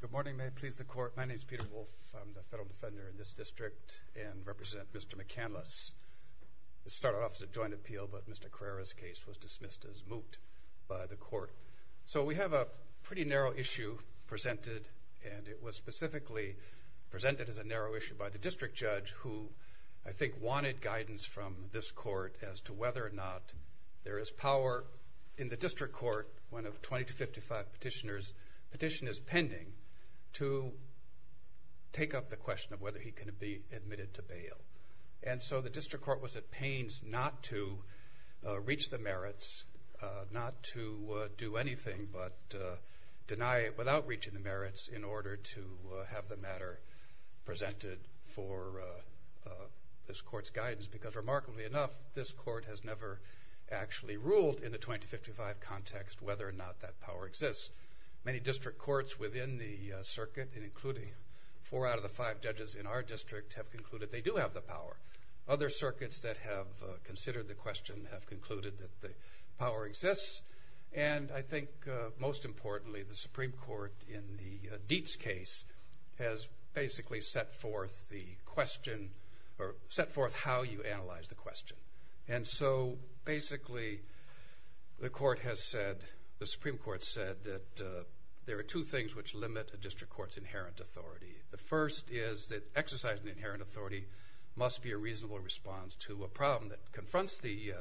Good morning. May it please the court. My name is Peter Wolfe. I'm the federal defender in this district and represent Mr. McCandless. It started off as a joint appeal, but Mr. Carrera's case was dismissed as moot by the court. So we have a pretty narrow issue presented, and it was specifically presented as a narrow issue by the district judge, who I think wanted guidance from this court as to whether or not there is power in the district court, when a 20 to 55 petitioner's petition is pending, to take up the question of whether he can be admitted to bail. And so the district court was at pains not to reach the merits, not to do anything but deny it without reaching the merits, in order to have the matter presented for this court's guidance, because remarkably enough, this court has never actually ruled in the 20 to 55 context whether or not that power exists. Many district courts within the circuit, including four out of the five judges in our district, have concluded they do have the power. Other circuits that have considered the question have concluded that the power exists. And I think most importantly, the Supreme Court, in Dietz's case, has basically set forth the question, or set forth how you analyze the question. And so basically, the Supreme Court said that there are two things which limit a district court's inherent authority. The first is that exercising the inherent authority must be a reasonable response to a problem that confronts the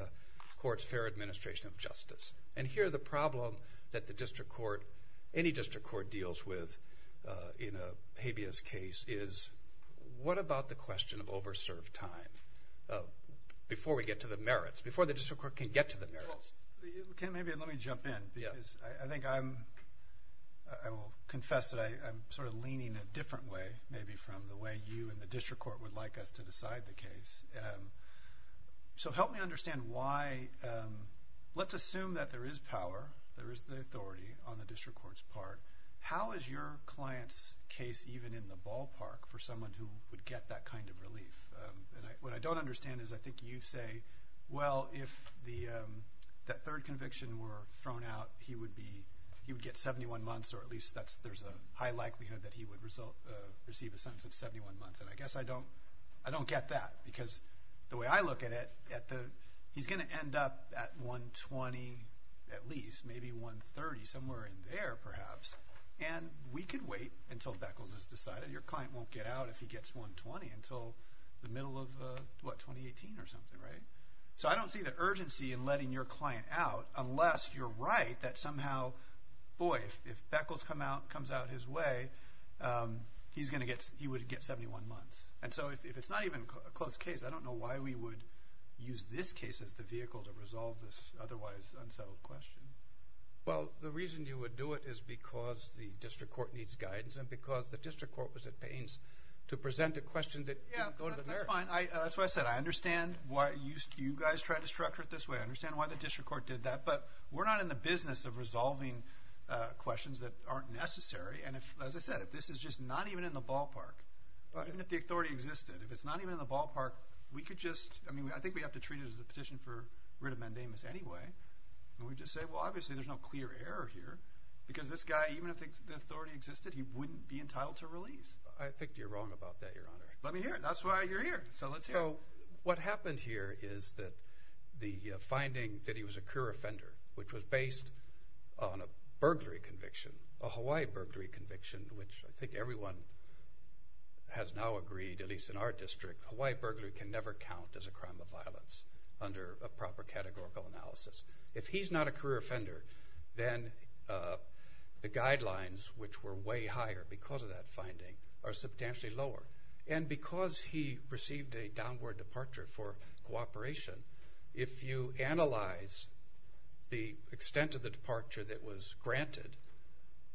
court's fair administration of justice. And here the problem that the district court, any district court, deals with in a habeas case is, what about the question of over-served time before we get to the merits, before the district court can get to the merits? Well, maybe let me jump in, because I think I'm, I will confess that I'm sort of leaning a different way, maybe from the way you and the district court would like us to decide the case. So help me understand why, let's assume that there is power, there is the authority on the district court's part. How is your client's case even in the ballpark for someone who would get that kind of relief? What I don't understand is I think you say, well, if that third conviction were thrown out, he would get 71 months, or at least there's a high likelihood that he would receive a sentence of 71 months. And I guess I don't get that, because the way I look at it, he's going to end up at 120, at least, maybe 130, somewhere in there, perhaps, and we could wait until Beckles has decided. Your client won't get out if he gets 120 until the middle of, what, 2018 or something, right? So I don't see the urgency in letting your client out unless you're right that somehow, boy, if Beckles comes out his way, he's going to get, he would get 71 months. And so if it's not even a close case, I don't know why we would use this case as the vehicle to resolve this otherwise unsettled question. Well, the reason you would do it is because the district court needs guidance and because the district court was at pains to present a question that didn't go to the merits. Yeah, that's fine. That's what I said. I understand why you guys tried to structure it this way. I understand why the district court did that. But we're not in the business of resolving questions that aren't necessary. And as I said, if this is just not even in the ballpark, even if the authority existed, if it's not even in the ballpark, we could just, I mean, I think we have to treat it as a petition for writ of mandamus anyway. And we just say, well, obviously there's no clear error here. Because this guy, even if the authority existed, he wouldn't be entitled to release. I think you're wrong about that, Your Honor. Let me hear it. That's why you're here. So let's hear it. So what happened here is that the finding that he was a career offender, which was based on a burglary conviction, a Hawaii burglary conviction, which I think everyone has now agreed, at least in our district, Hawaii burglary can never count as a crime of violence under a proper categorical analysis. If he's not a career offender, then the guidelines, which were way higher because of that finding, are substantially lower. And because he received a downward departure for cooperation, if you analyze the extent of the departure that was granted,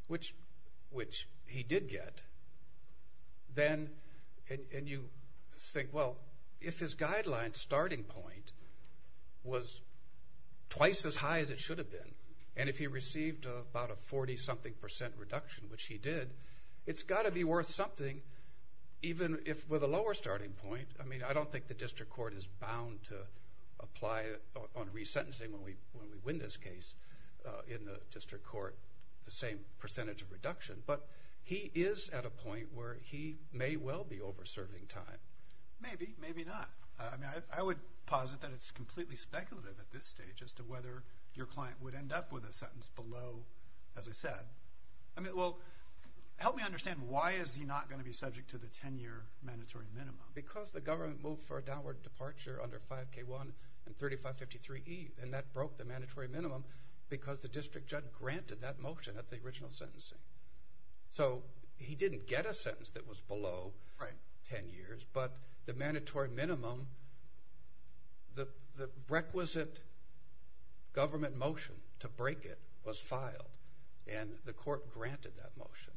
which he did get, then you think, well, if his guideline starting point was twice as high as it should have been, and if he received about a 40-something percent reduction, which he did, it's got to be worth something even if with a lower starting point. I mean, I don't think the district court is bound to apply on resentencing when we win this case in the district court the same percentage of reduction. But he is at a point where he may well be over serving time. Maybe, maybe not. I mean, I would posit that it's completely speculative at this stage as to whether your client would end up with a sentence below, as I said. I mean, well, help me understand, why is he not going to be subject to the 10-year mandatory minimum? Because the government moved for a downward departure under 5K1 and 3553E, and that broke the mandatory minimum because the district judge granted that motion at the original sentencing. So he didn't get a sentence that was below 10 years, but the mandatory minimum, the requisite government motion to break it was filed, and the court granted that motion.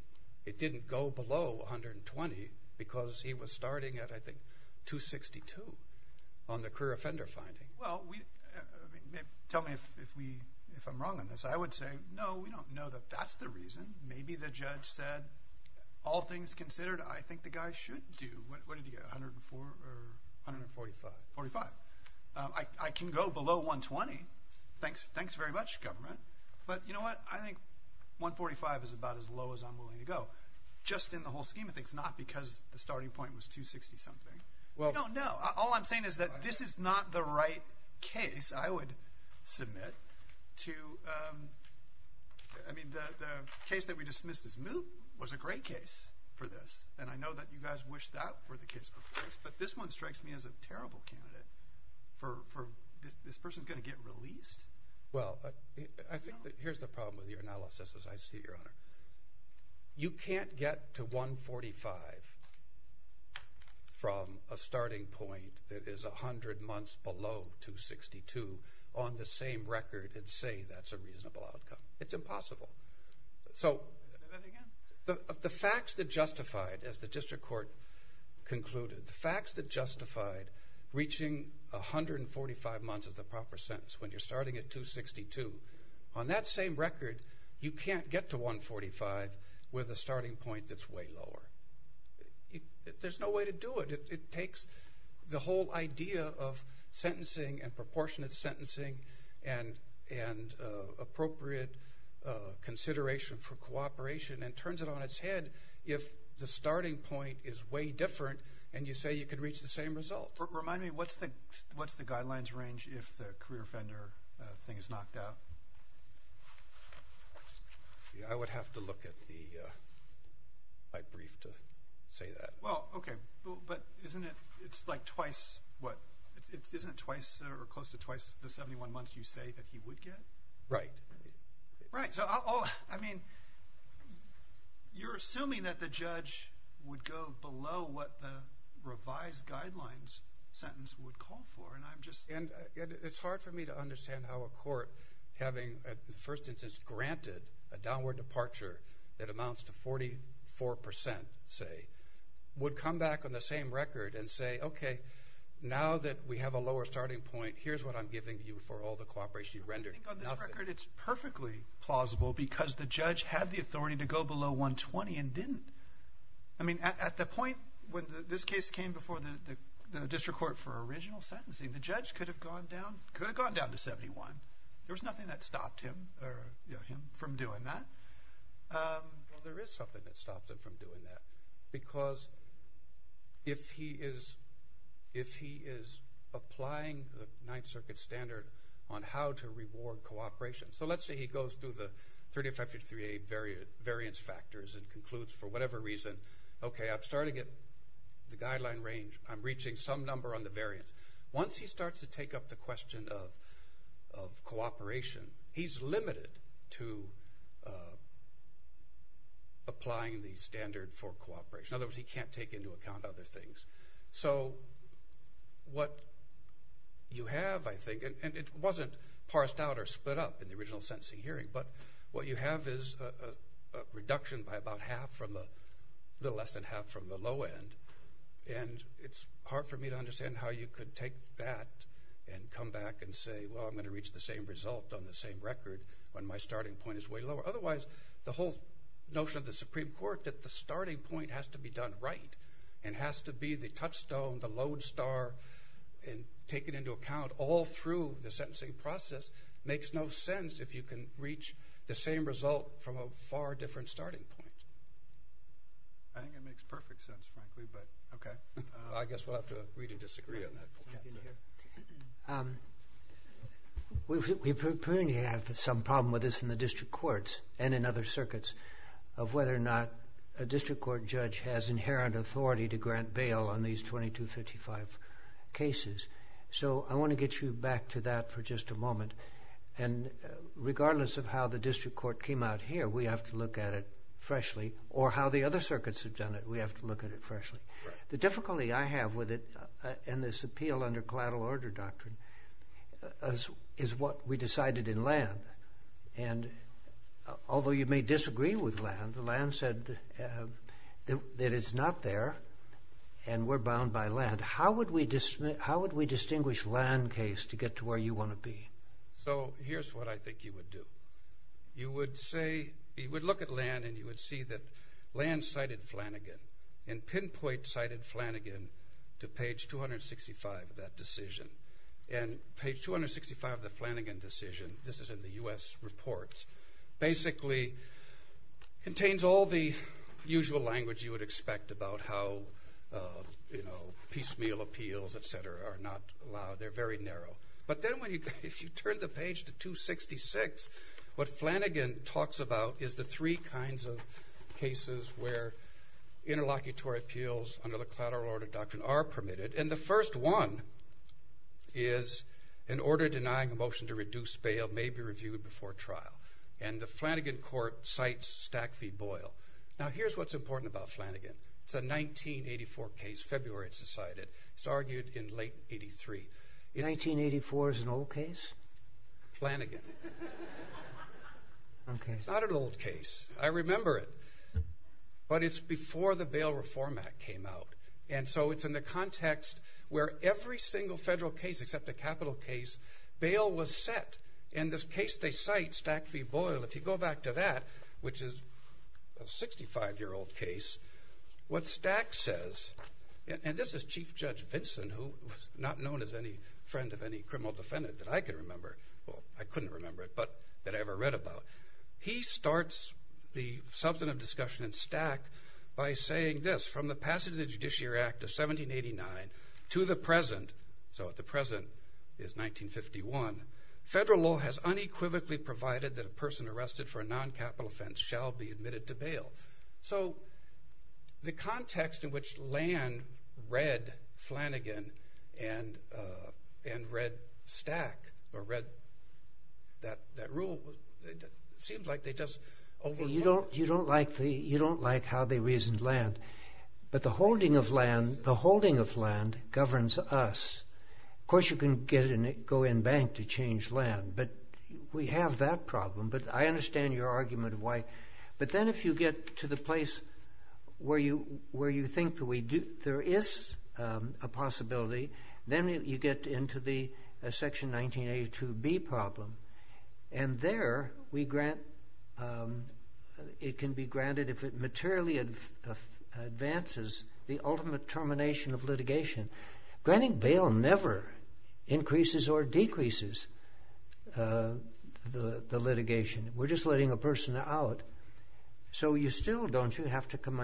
It didn't go below 120 because he was starting at, I think, 262 on the career offender finding. Well, tell me if I'm wrong on this. I would say, no, we don't know that that's the reason. Maybe the judge said, all things considered, I think the guy should do. What did he get, 104 or 145? 45. I can go below 120. Thanks very much, government. But you know what? I think 145 is about as low as I'm willing to go, just in the whole scheme of things, not because the starting point was 260-something. No, no. All I'm saying is that this is not the right case. I would submit to, I mean, the case that we dismissed as moot was a great case for this, and I know that you guys wish that were the case, of course, but this one strikes me as a terrible candidate for this person's going to get released. Well, I think that here's the problem with your analysis, as I see it, Your Honor. You can't get to 145 from a starting point that is 100 months below 262 on the same record and say that's a reasonable outcome. It's impossible. Say that again. The facts that justified, as the district court concluded, the facts that justified reaching 145 months as the proper sentence when you're starting at 262, on that same record you can't get to 145 with a starting point that's way lower. There's no way to do it. It takes the whole idea of sentencing and proportionate sentencing and appropriate consideration for cooperation and turns it on its head if the starting point is way different and you say you could reach the same result. Remind me, what's the guidelines range if the career offender thing is knocked out? I would have to look at my brief to say that. Well, okay, but isn't it like twice what? Isn't it twice or close to twice the 71 months you say that he would get? Right. Right. I mean, you're assuming that the judge would go below what the revised guidelines sentence would call for. And it's hard for me to understand how a court having, in the first instance, granted a downward departure that amounts to 44%, say, would come back on the same record and say, okay, now that we have a lower starting point, here's what I'm giving you for all the cooperation you rendered. I think on this record it's perfectly plausible because the judge had the authority to go below 120 and didn't. I mean, at the point when this case came before the district court for original sentencing, the judge could have gone down to 71. There was nothing that stopped him from doing that. Well, there is something that stops him from doing that because if he is applying the Ninth Circuit standard on how to reward cooperation. So let's say he goes through the 3553A variance factors and concludes, for whatever reason, okay, I'm starting at the guideline range. I'm reaching some number on the variance. Once he starts to take up the question of cooperation, he's limited to applying the standard for cooperation. In other words, he can't take into account other things. So what you have, I think, and it wasn't parsed out or split up in the original sentencing hearing, but what you have is a reduction by about half from a little less than half from the low end. And it's hard for me to understand how you could take that and come back and say, well, I'm going to reach the same result on the same record when my starting point is way lower. Otherwise, the whole notion of the Supreme Court that the starting point has to be done right and has to be the touchstone, the lodestar, and take it into account all through the sentencing process makes no sense if you can reach the same result from a far different starting point. I think it makes perfect sense, frankly, but okay. I guess we'll have to agree to disagree on that point. We apparently have some problem with this in the district courts and in other circuits of whether or not a district court judge has inherent authority to grant bail on these 2255 cases. So I want to get you back to that for just a moment. And regardless of how the district court came out here, we have to look at it freshly, or how the other circuits have done it, we have to look at it freshly. The difficulty I have with it and this appeal under collateral order doctrine is what we decided in land. And although you may disagree with land, the land said that it's not there and we're bound by land. How would we distinguish land case to get to where you want to be? So here's what I think you would do. You would look at land and you would see that land cited Flanagan and pinpoint cited Flanagan to page 265 of that decision. And page 265 of the Flanagan decision, this is in the U.S. reports, basically contains all the usual language you would expect about how, you know, piecemeal appeals, et cetera, are not allowed. They're very narrow. But then if you turn the page to 266, what Flanagan talks about is the three kinds of cases where interlocutory appeals under the collateral order doctrine are permitted. And the first one is an order denying a motion to reduce bail may be reviewed before trial. And the Flanagan court cites Stack v. Boyle. Now, here's what's important about Flanagan. It's a 1984 case, February it's decided. It's argued in late 83. 1984 is an old case? Flanagan. Okay. It's not an old case. I remember it. But it's before the Bail Reform Act came out. And so it's in the context where every single federal case except the capital case, bail was set. And this case they cite, Stack v. Boyle, if you go back to that, which is a 65-year-old case, what Stack says, and this is Chief Judge Vinson, who is not known as any friend of any criminal defendant that I can remember. Well, I couldn't remember it, but that I ever read about. He starts the substantive discussion in Stack by saying this, from the passage of the Judiciary Act of 1789 to the present, so the present is 1951, federal law has unequivocally provided that a person arrested for a non-capital offense shall be admitted to bail. So the context in which Land read Flanagan and read Stack, or read that rule, seems like they just overlooked it. You don't like how they reasoned Land. But the holding of Land governs us. Of course you can go in bank to change Land, but we have that problem. But I understand your argument of why. But then if you get to the place where you think there is a possibility, then you get into the Section 1982B problem, and there it can be granted, if it materially advances, the ultimate termination of litigation. Granting bail never increases or decreases the litigation. We're just letting a person out. So you still, don't you, have to come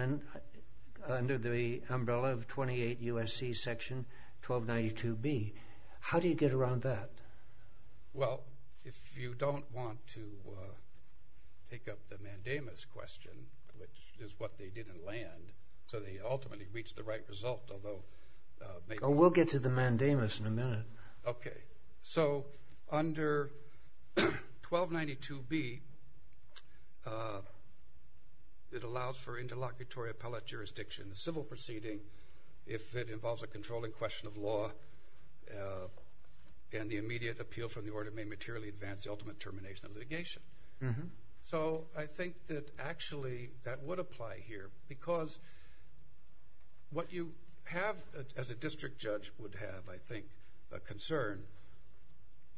under the umbrella of 28 U.S.C. Section 1292B. How do you get around that? Well, if you don't want to take up the Mandamus question, which is what they did in Land, so they ultimately reached the right result. We'll get to the Mandamus in a minute. Okay. So under 1292B, it allows for interlocutory appellate jurisdiction in the civil proceeding if it involves a controlling question of law and the immediate appeal from the order may materially advance the ultimate termination of litigation. So I think that actually that would apply here because what you have as a district judge would have, I think, a concern.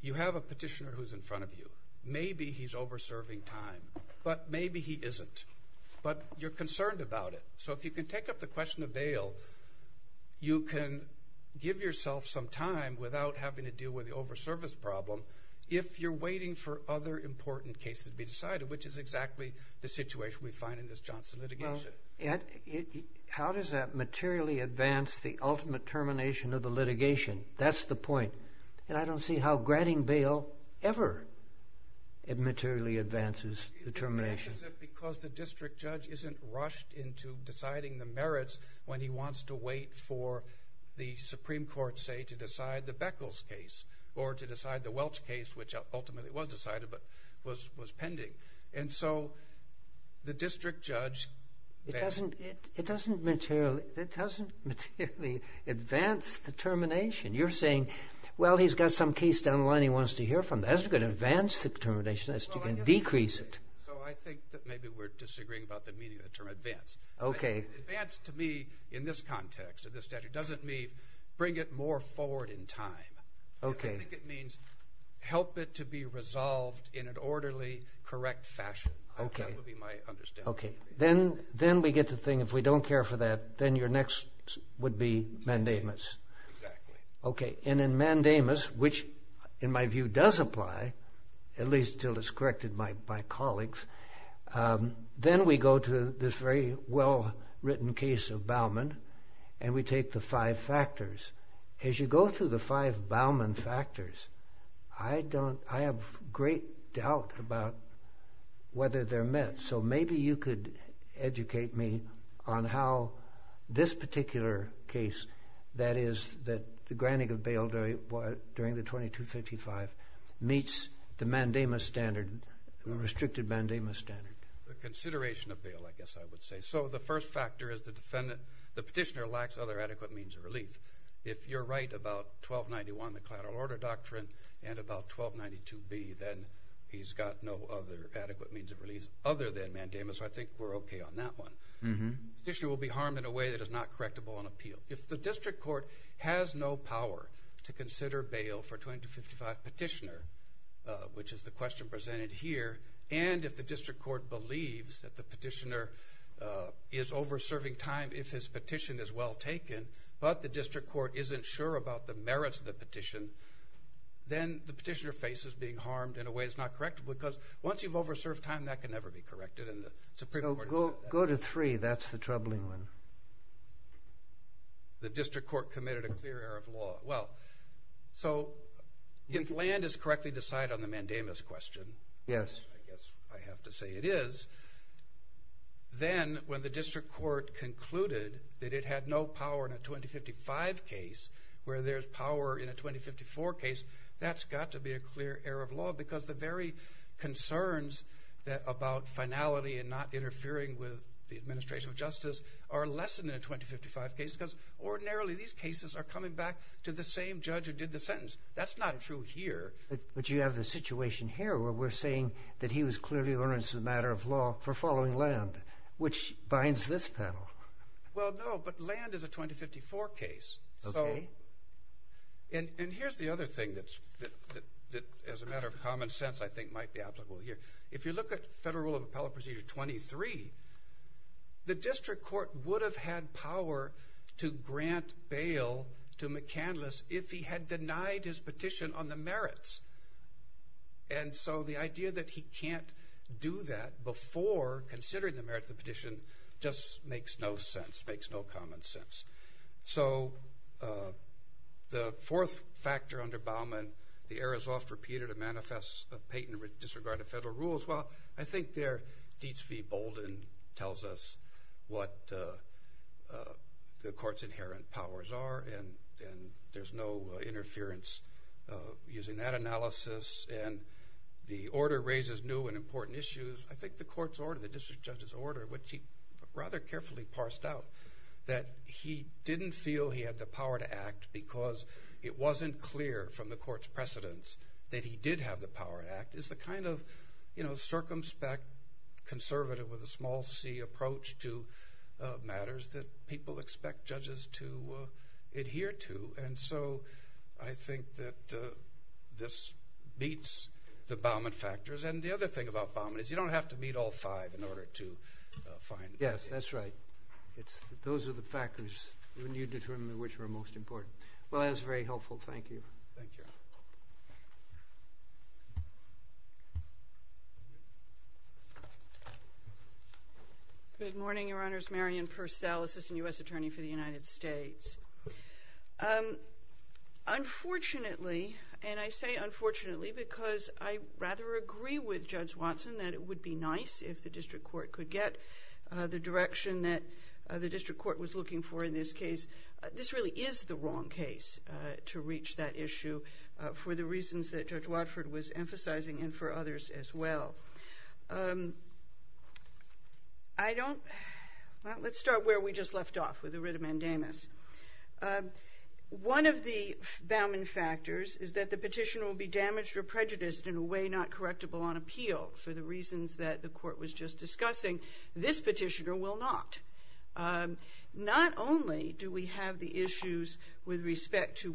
You have a petitioner who's in front of you. Maybe he's over-serving time, but maybe he isn't, but you're concerned about it. So if you can take up the question of bail, you can give yourself some time without having to deal with the over-service problem if you're waiting for other important cases to be decided, which is exactly the situation we find in this Johnson litigation. Well, Ed, how does that materially advance the ultimate termination of the litigation? That's the point. And I don't see how granting bail ever materially advances the termination. Is it because the district judge isn't rushed into deciding the merits when he wants to wait for the Supreme Court, say, to decide the Beckles case or to decide the Welch case, which ultimately was decided but was pending? And so the district judge— It doesn't materially advance the termination. You're saying, well, he's got some case down the line he wants to hear from. That's going to advance the termination. That's going to decrease it. So I think that maybe we're disagreeing about the meaning of the term advance. Okay. Advance, to me, in this context, in this statute, doesn't mean bring it more forward in time. Okay. I think it means help it to be resolved in an orderly, correct fashion. Okay. That would be my understanding. Okay. Then we get to the thing, if we don't care for that, then your next would be mandamus. Exactly. Okay. And in mandamus, which in my view does apply, at least until it's corrected by colleagues, then we go to this very well-written case of Baumann, and we take the five factors. As you go through the five Baumann factors, I have great doubt about whether they're met. So maybe you could educate me on how this particular case, that is, the granting of bail during the 2255, meets the mandamus standard, restricted mandamus standard. The consideration of bail, I guess I would say. So the first factor is the petitioner lacks other adequate means of relief. If you're right about 1291, the collateral order doctrine, and about 1292B, then he's got no other adequate means of relief other than mandamus, so I think we're okay on that one. The petitioner will be harmed in a way that is not correctable on appeal. If the district court has no power to consider bail for a 2255 petitioner, which is the question presented here, and if the district court believes that the petitioner is over serving time if his petition is well taken, but the district court isn't sure about the merits of the petition, then the petitioner face is being harmed in a way that's not correctable, because once you've over served time, that can never be corrected, and the Supreme Court has said that. Go to three. That's the troubling one. The district court committed a clear error of law. Well, so if land is correctly decided on the mandamus question, which I guess I have to say it is, then when the district court concluded that it had no power in a 2055 case where there's power in a 2054 case, that's got to be a clear error of law, because the very concerns about finality and not interfering with the administration of justice are lessened in a 2055 case, because ordinarily these cases are coming back to the same judge who did the sentence. That's not true here. But you have the situation here where we're saying that he was clearly on the matter of law for following land, which binds this panel. Well, no, but land is a 2054 case. Okay. And here's the other thing that as a matter of common sense I think might be applicable here. If you look at Federal Rule of Appellate Procedure 23, the district court would have had power to grant bail to McCandless if he had denied his petition on the merits. And so the idea that he can't do that before considering the merits of the petition just makes no sense, makes no common sense. So the fourth factor under Bauman, the error is oft repeated and manifests of patent disregard of federal rules. Well, I think there Dietz v. Bolden tells us what the court's inherent powers are, and there's no interference using that analysis. And the order raises new and important issues. I think the court's order, the district judge's order, which he rather carefully parsed out, that he didn't feel he had the power to act because it wasn't clear from the court's precedents that he did have the power to act, is the kind of circumspect conservative with a small c approach to matters that people expect judges to adhere to. And so I think that this beats the Bauman factors. And the other thing about Bauman is you don't have to meet all five in order to find it. Yes, that's right. Those are the factors when you determine which are most important. Well, that was very helpful. Thank you. Thank you. Good morning, Your Honors. Marian Purcell, Assistant U.S. Attorney for the United States. Unfortunately, and I say unfortunately because I rather agree with Judge Watson that it would be nice if the district court could get the direction that the district court was looking for in this case. This really is the wrong case to reach that issue for the reasons that Judge Watford was emphasizing and for others as well. Let's start where we just left off with the writ of mandamus. One of the Bauman factors is that the petitioner will be damaged or prejudiced in a way not correctable on appeal for the reasons that the court was just discussing. This petitioner will not. Not only do we have the issues with respect to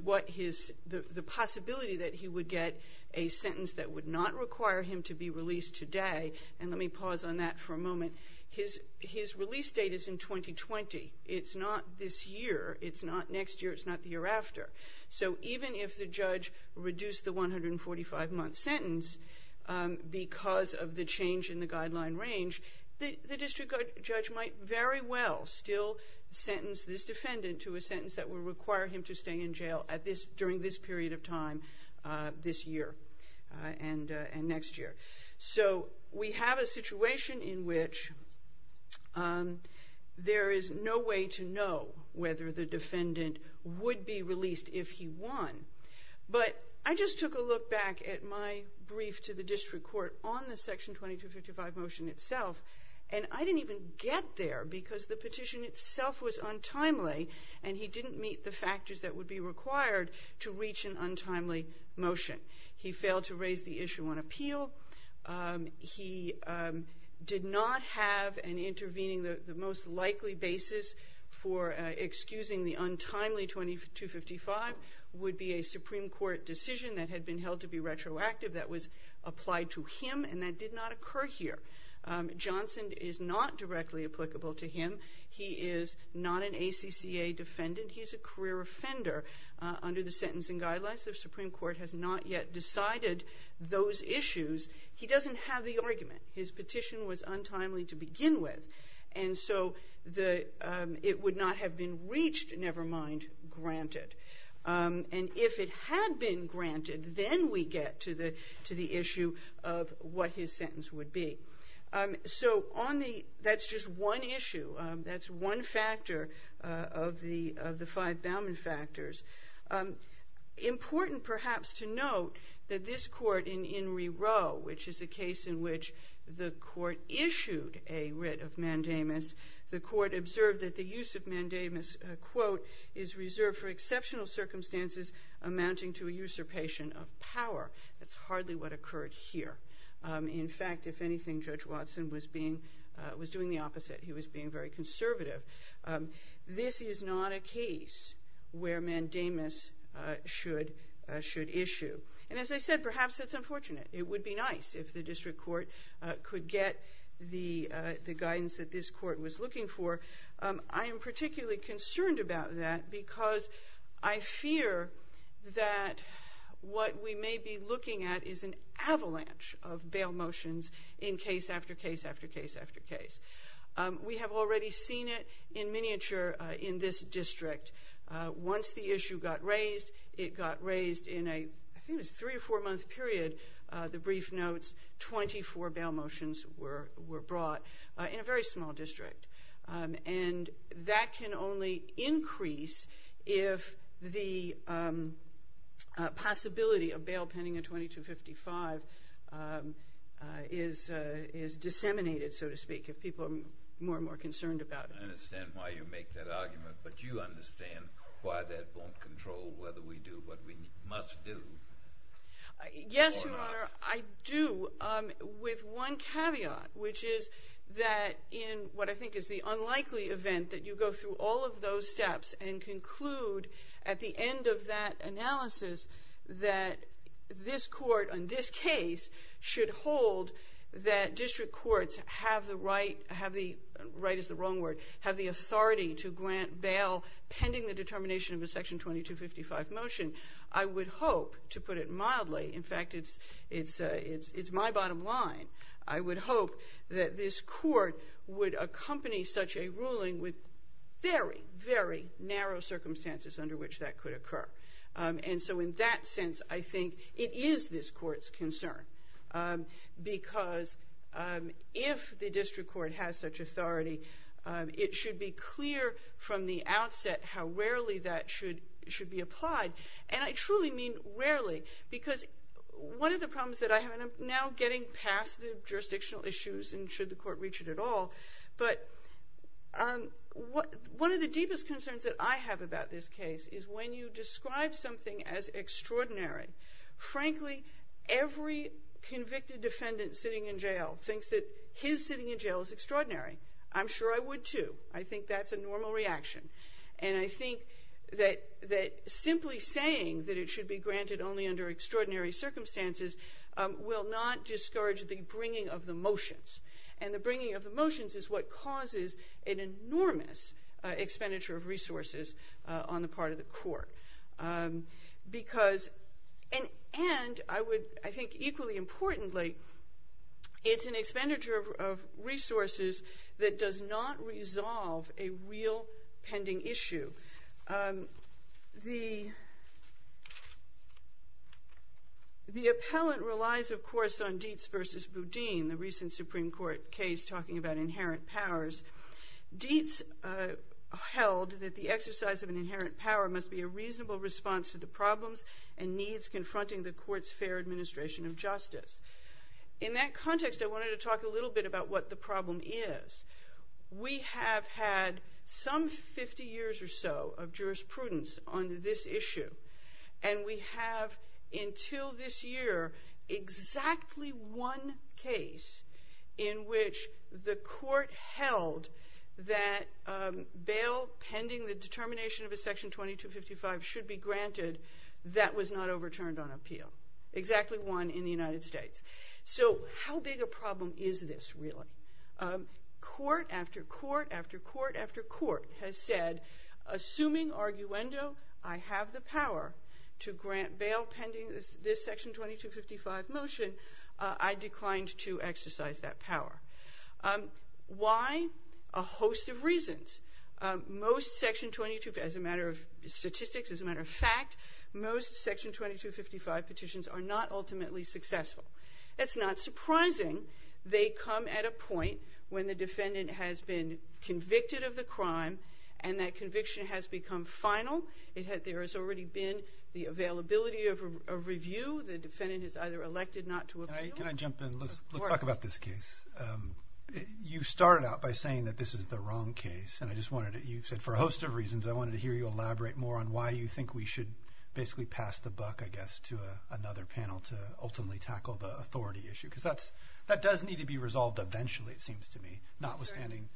the possibility that he would get a sentence that would not require him to be released today, and let me pause on that for a moment, his release date is in 2020. It's not this year. It's not next year. It's not the year after. So even if the judge reduced the 145-month sentence because of the change in the guideline range, the district judge might very well still sentence this defendant to a sentence that would require him to stay in jail during this period of time this year and next year. So we have a situation in which there is no way to know whether the defendant would be released if he won. But I just took a look back at my brief to the district court on the Section 2255 motion itself, and I didn't even get there because the petition itself was untimely and he didn't meet the factors that would be required to reach an untimely motion. He failed to raise the issue on appeal. He did not have an intervening. The most likely basis for excusing the untimely 2255 would be a Supreme Court decision that had been held to be retroactive that was applied to him, and that did not occur here. Johnson is not directly applicable to him. He is not an ACCA defendant. He's a career offender under the sentencing guidelines. The Supreme Court has not yet decided those issues. He doesn't have the argument. His petition was untimely to begin with, and so it would not have been reached, never mind granted. And if it had been granted, then we get to the issue of what his sentence would be. So that's just one issue. That's one factor of the five Bauman factors. Important, perhaps, to note that this court in In re Roe, which is a case in which the court issued a writ of mandamus, the court observed that the use of mandamus, quote, is reserved for exceptional circumstances amounting to a usurpation of power. That's hardly what occurred here. In fact, if anything, Judge Watson was doing the opposite. He was being very conservative. This is not a case where mandamus should issue. And as I said, perhaps that's unfortunate. It would be nice if the district court could get the guidance that this court was looking for. I am particularly concerned about that because I fear that what we may be looking at is an avalanche of bail motions in case after case after case after case. We have already seen it in miniature in this district. Once the issue got raised, it got raised in a three- or four-month period. The brief notes, 24 bail motions were brought in a very small district. And that can only increase if the possibility of bail pending in 2255 is disseminated, so to speak, if people are more and more concerned about it. I understand why you make that argument, but you understand why that won't control whether we do what we must do. Yes, Your Honor, I do, with one caveat, which is that in what I think is the unlikely event that you go through all of those steps and conclude at the end of that analysis that this court on this case should hold that district courts have the right, right is the wrong word, have the authority to grant bail pending the determination of a Section 2255 motion. I would hope, to put it mildly, in fact, it's my bottom line, I would hope that this court would accompany such a ruling with very, very narrow circumstances under which that could occur. And so in that sense, I think it is this court's concern because if the district court has such authority, it should be clear from the outset how rarely that should be applied. And I truly mean rarely because one of the problems that I have, and I'm now getting past the jurisdictional issues and should the court reach it at all, but one of the deepest concerns that I have about this case is when you describe something as extraordinary, frankly, every convicted defendant sitting in jail thinks that his sitting in jail is extraordinary. I'm sure I would, too. I think that's a normal reaction. And I think that simply saying that it should be granted only under extraordinary circumstances will not discourage the bringing of the motions. And the bringing of the motions is what causes an enormous expenditure of resources on the part of the court. And I think equally importantly, it's an expenditure of resources that does not resolve a real pending issue. The appellant relies, of course, on Dietz v. Boudin, the recent Supreme Court case talking about inherent powers. Dietz held that the exercise of an inherent power must be a reasonable response to the problems and needs confronting the court's fair administration of justice. In that context, I wanted to talk a little bit about what the problem is. We have had some 50 years or so of jurisprudence on this issue, and we have until this year exactly one case in which the court held that bail pending the determination of a Section 2255 should be granted that was not overturned on appeal. Exactly one in the United States. So how big a problem is this, really? Court after court after court after court has said, assuming arguendo, I have the power to grant bail pending this Section 2255 motion, I declined to exercise that power. Why? A host of reasons. Most Section 2255, as a matter of statistics, as a matter of fact, most Section 2255 petitions are not ultimately successful. That's not surprising. They come at a point when the defendant has been convicted of the crime, and that conviction has become final. There has already been the availability of a review. The defendant is either elected not to appeal. Can I jump in? Let's talk about this case. You started out by saying that this is the wrong case, and you said for a host of reasons. I wanted to hear you elaborate more on why you think we should basically pass the buck, I guess, to another panel to ultimately tackle the authority issue, because that does need to be resolved eventually, it seems to me, notwithstanding.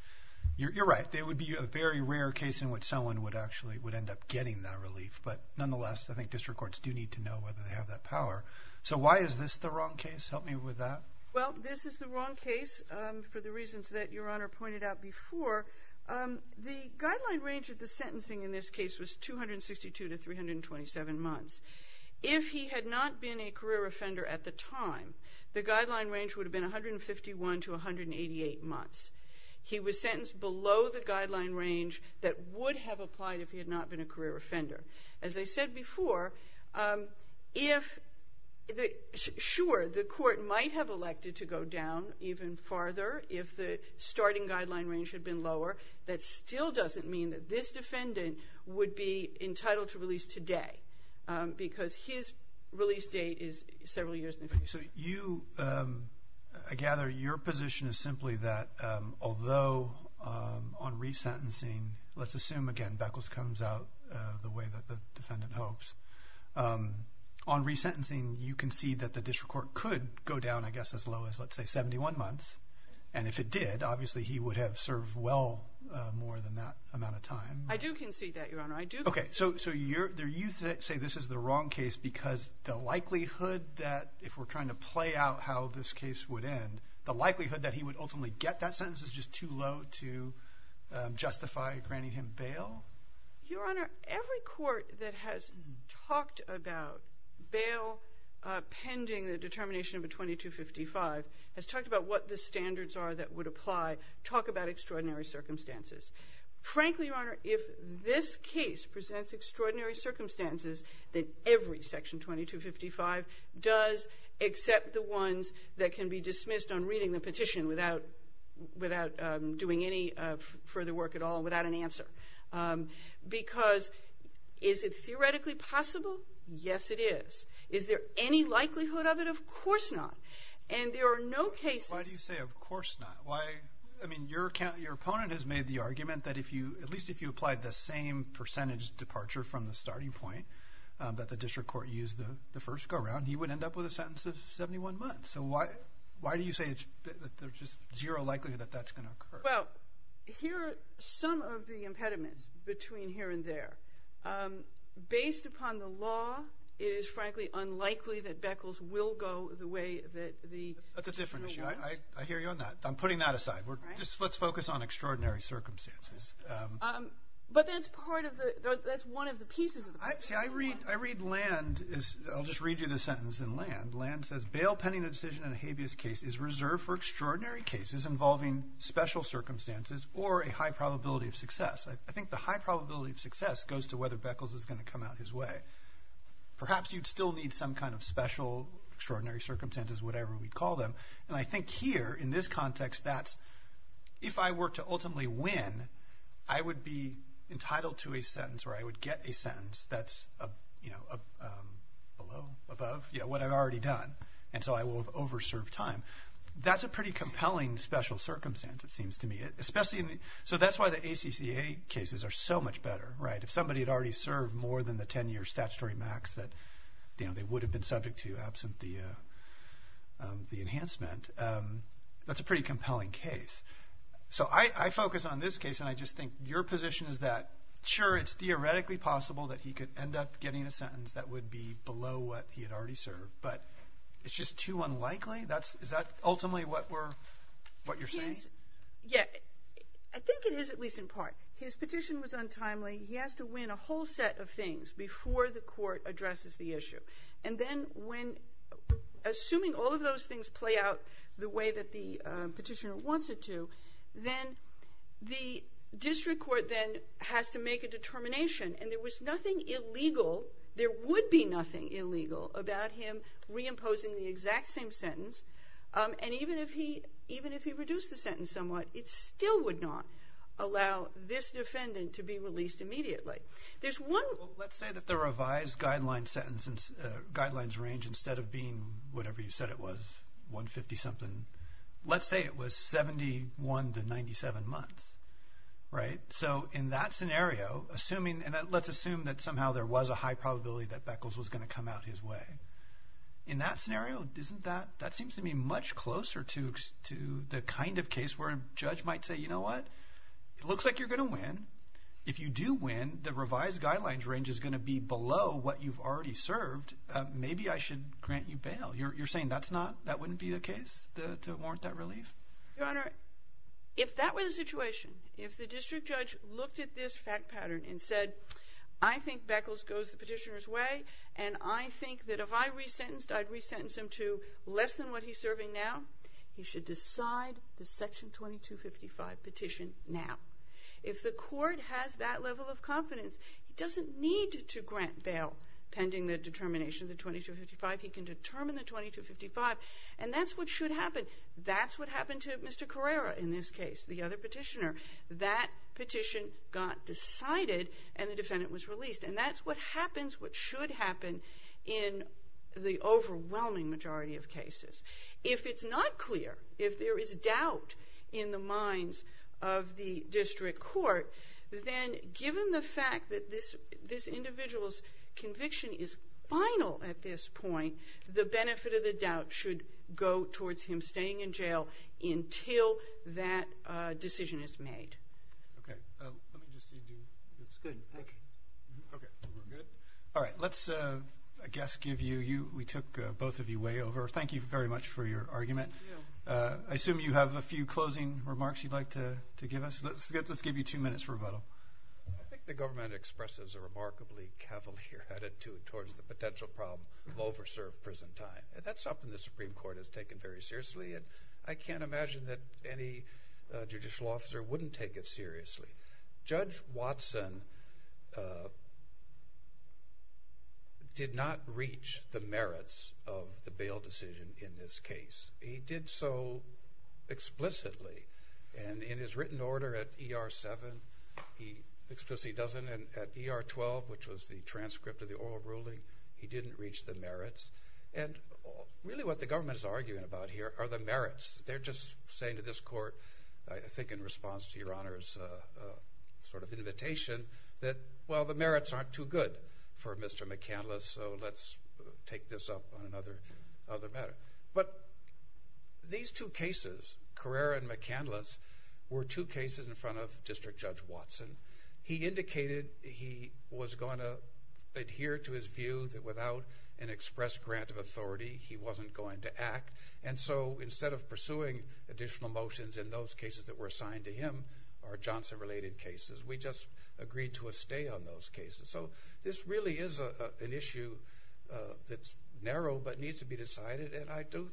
You're right. There would be a very rare case in which someone would actually end up getting that relief. But nonetheless, I think district courts do need to know whether they have that power. So why is this the wrong case? Help me with that. Well, this is the wrong case for the reasons that Your Honor pointed out before. The guideline range of the sentencing in this case was 262 to 327 months. If he had not been a career offender at the time, the guideline range would have been 151 to 188 months. He was sentenced below the guideline range that would have applied if he had not been a career offender. As I said before, sure, the court might have elected to go down even farther if the starting guideline range had been lower. That still doesn't mean that this defendant would be entitled to release today, because his release date is several years in the future. So you, I gather your position is simply that although on resentencing, let's assume, again, Beckles comes out the way that the defendant hopes, on resentencing, you concede that the district court could go down, I guess, as low as, let's say, 71 months. And if it did, obviously he would have served well more than that amount of time. I do concede that, Your Honor. I do concede that. Okay. So you say this is the wrong case because the likelihood that, if we're trying to play out how this case would end, the likelihood that he would ultimately get that sentence is just too low to justify granting him bail? Your Honor, every court that has talked about bail pending the determination of a 2255 has talked about what the standards are that would apply, talk about extraordinary circumstances. Frankly, Your Honor, if this case presents extraordinary circumstances, then every Section 2255 does except the ones that can be dismissed on reading the petition without doing any further work at all, without an answer. Because is it theoretically possible? Yes, it is. Is there any likelihood of it? Of course not. And there are no cases— Why do you say, of course not? I mean, your opponent has made the argument that, at least if you applied the same percentage departure from the starting point that the district court used the first go-round, he would end up with a sentence of 71 months. So why do you say that there's just zero likelihood that that's going to occur? Well, here are some of the impediments between here and there. Based upon the law, it is frankly unlikely that Beckles will go the way that the district court wants. That's a different issue. I hear you on that. I'm putting that aside. Let's focus on extraordinary circumstances. But that's part of the—that's one of the pieces of the puzzle. See, I read Land—I'll just read you the sentence in Land. Land says, Bail pending a decision in a habeas case is reserved for extraordinary cases involving special circumstances or a high probability of success. I think the high probability of success goes to whether Beckles is going to come out his way. Perhaps you'd still need some kind of special extraordinary circumstances, whatever we call them. And I think here, in this context, that's—if I were to ultimately win, I would be entitled to a sentence or I would get a sentence that's, you know, below, above, you know, what I've already done, and so I will have over-served time. That's a pretty compelling special circumstance, it seems to me. Especially in the—so that's why the ACCA cases are so much better, right? If somebody had already served more than the 10-year statutory max that, you know, they would have been subject to absent the enhancement, that's a pretty compelling case. So I focus on this case, and I just think your position is that, sure, it's theoretically possible that he could end up getting a sentence that would be below what he had already served, but it's just too unlikely? That's—is that ultimately what we're—what you're saying? Yes. I think it is, at least in part. His petition was untimely. He has to win a whole set of things before the court addresses the issue. And then when—assuming all of those things play out the way that the petitioner wants it to, then the district court then has to make a determination, and there was nothing illegal— there would be nothing illegal about him reimposing the exact same sentence, and even if he reduced the sentence somewhat, it still would not allow this defendant to be released immediately. There's one— Well, let's say that the revised guidelines range, instead of being whatever you said it was, 150-something, let's say it was 71 to 97 months, right? So in that scenario, assuming—and let's assume that somehow there was a high probability that Beckles was going to come out his way. In that scenario, isn't that—that seems to me much closer to the kind of case where a judge might say, you know what, it looks like you're going to win. If you do win, the revised guidelines range is going to be below what you've already served. Maybe I should grant you bail. You're saying that's not—that wouldn't be the case to warrant that relief? Your Honor, if that were the situation, if the district judge looked at this fact pattern and said, I think Beckles goes the Petitioner's way, and I think that if I resentenced, I'd resentence him to less than what he's serving now, he should decide the Section 2255 petition now. If the Court has that level of confidence, he doesn't need to grant bail pending the determination of the 2255. He can determine the 2255, and that's what should happen. That's what happened to Mr. Carrera in this case, the other Petitioner. That petition got decided, and the defendant was released. And that's what happens, what should happen in the overwhelming majority of cases. If it's not clear, if there is doubt in the minds of the district court, then given the fact that this individual's conviction is final at this point, the benefit of the doubt should go towards him staying in jail until that decision is made. Okay. Let me just see if you— Good, thank you. Okay, we're good? All right. Let's, I guess, give you—we took both of you way over. Thank you very much for your argument. Thank you. I assume you have a few closing remarks you'd like to give us. Let's give you two minutes for rebuttal. I think the government expresses a remarkably cavalier attitude towards the potential problem of over-served prison time, and that's something the Supreme Court has taken very seriously, and I can't imagine that any judicial officer wouldn't take it seriously. Judge Watson did not reach the merits of the bail decision in this case. He did so explicitly, and in his written order at ER-7, he explicitly doesn't, and at ER-12, which was the transcript of the oral ruling, he didn't reach the merits. And really what the government is arguing about here are the merits. They're just saying to this court, I think in response to Your Honor's sort of invitation, that, well, the merits aren't too good for Mr. McCandless, so let's take this up on another matter. But these two cases, Carrera and McCandless, were two cases in front of District Judge Watson. He indicated he was going to adhere to his view that without an express grant of authority, he wasn't going to act. And so instead of pursuing additional motions in those cases that were assigned to him, our Johnson-related cases, we just agreed to a stay on those cases. So this really is an issue that's narrow but needs to be decided, and I do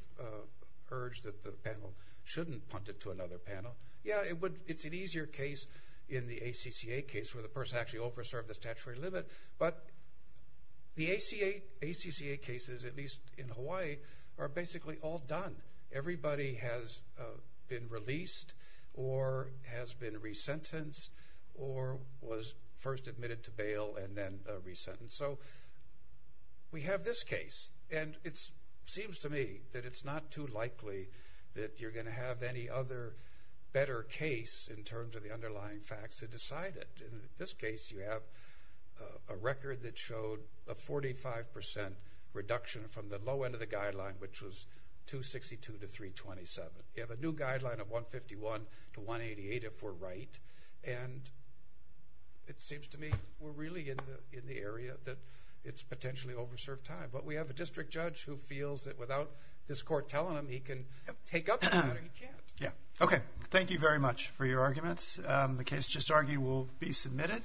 urge that the panel shouldn't punt it to another panel. Yeah, it's an easier case in the ACCA case where the person actually over-served the statutory limit, but the ACCA cases, at least in Hawaii, are basically all done. Everybody has been released or has been resentenced or was first admitted to bail and then resentenced. So we have this case, and it seems to me that it's not too likely that you're going to have any other better case in terms of the underlying facts to decide it. In this case, you have a record that showed a 45 percent reduction from the low end of the guideline, which was 262 to 327. You have a new guideline of 151 to 188 if we're right, and it seems to me we're really in the area that it's potentially over-served time. But we have a district judge who feels that without this court telling him, he can take up the matter. He can't. Yeah, okay. Thank you very much for your arguments. The case just argued will be submitted.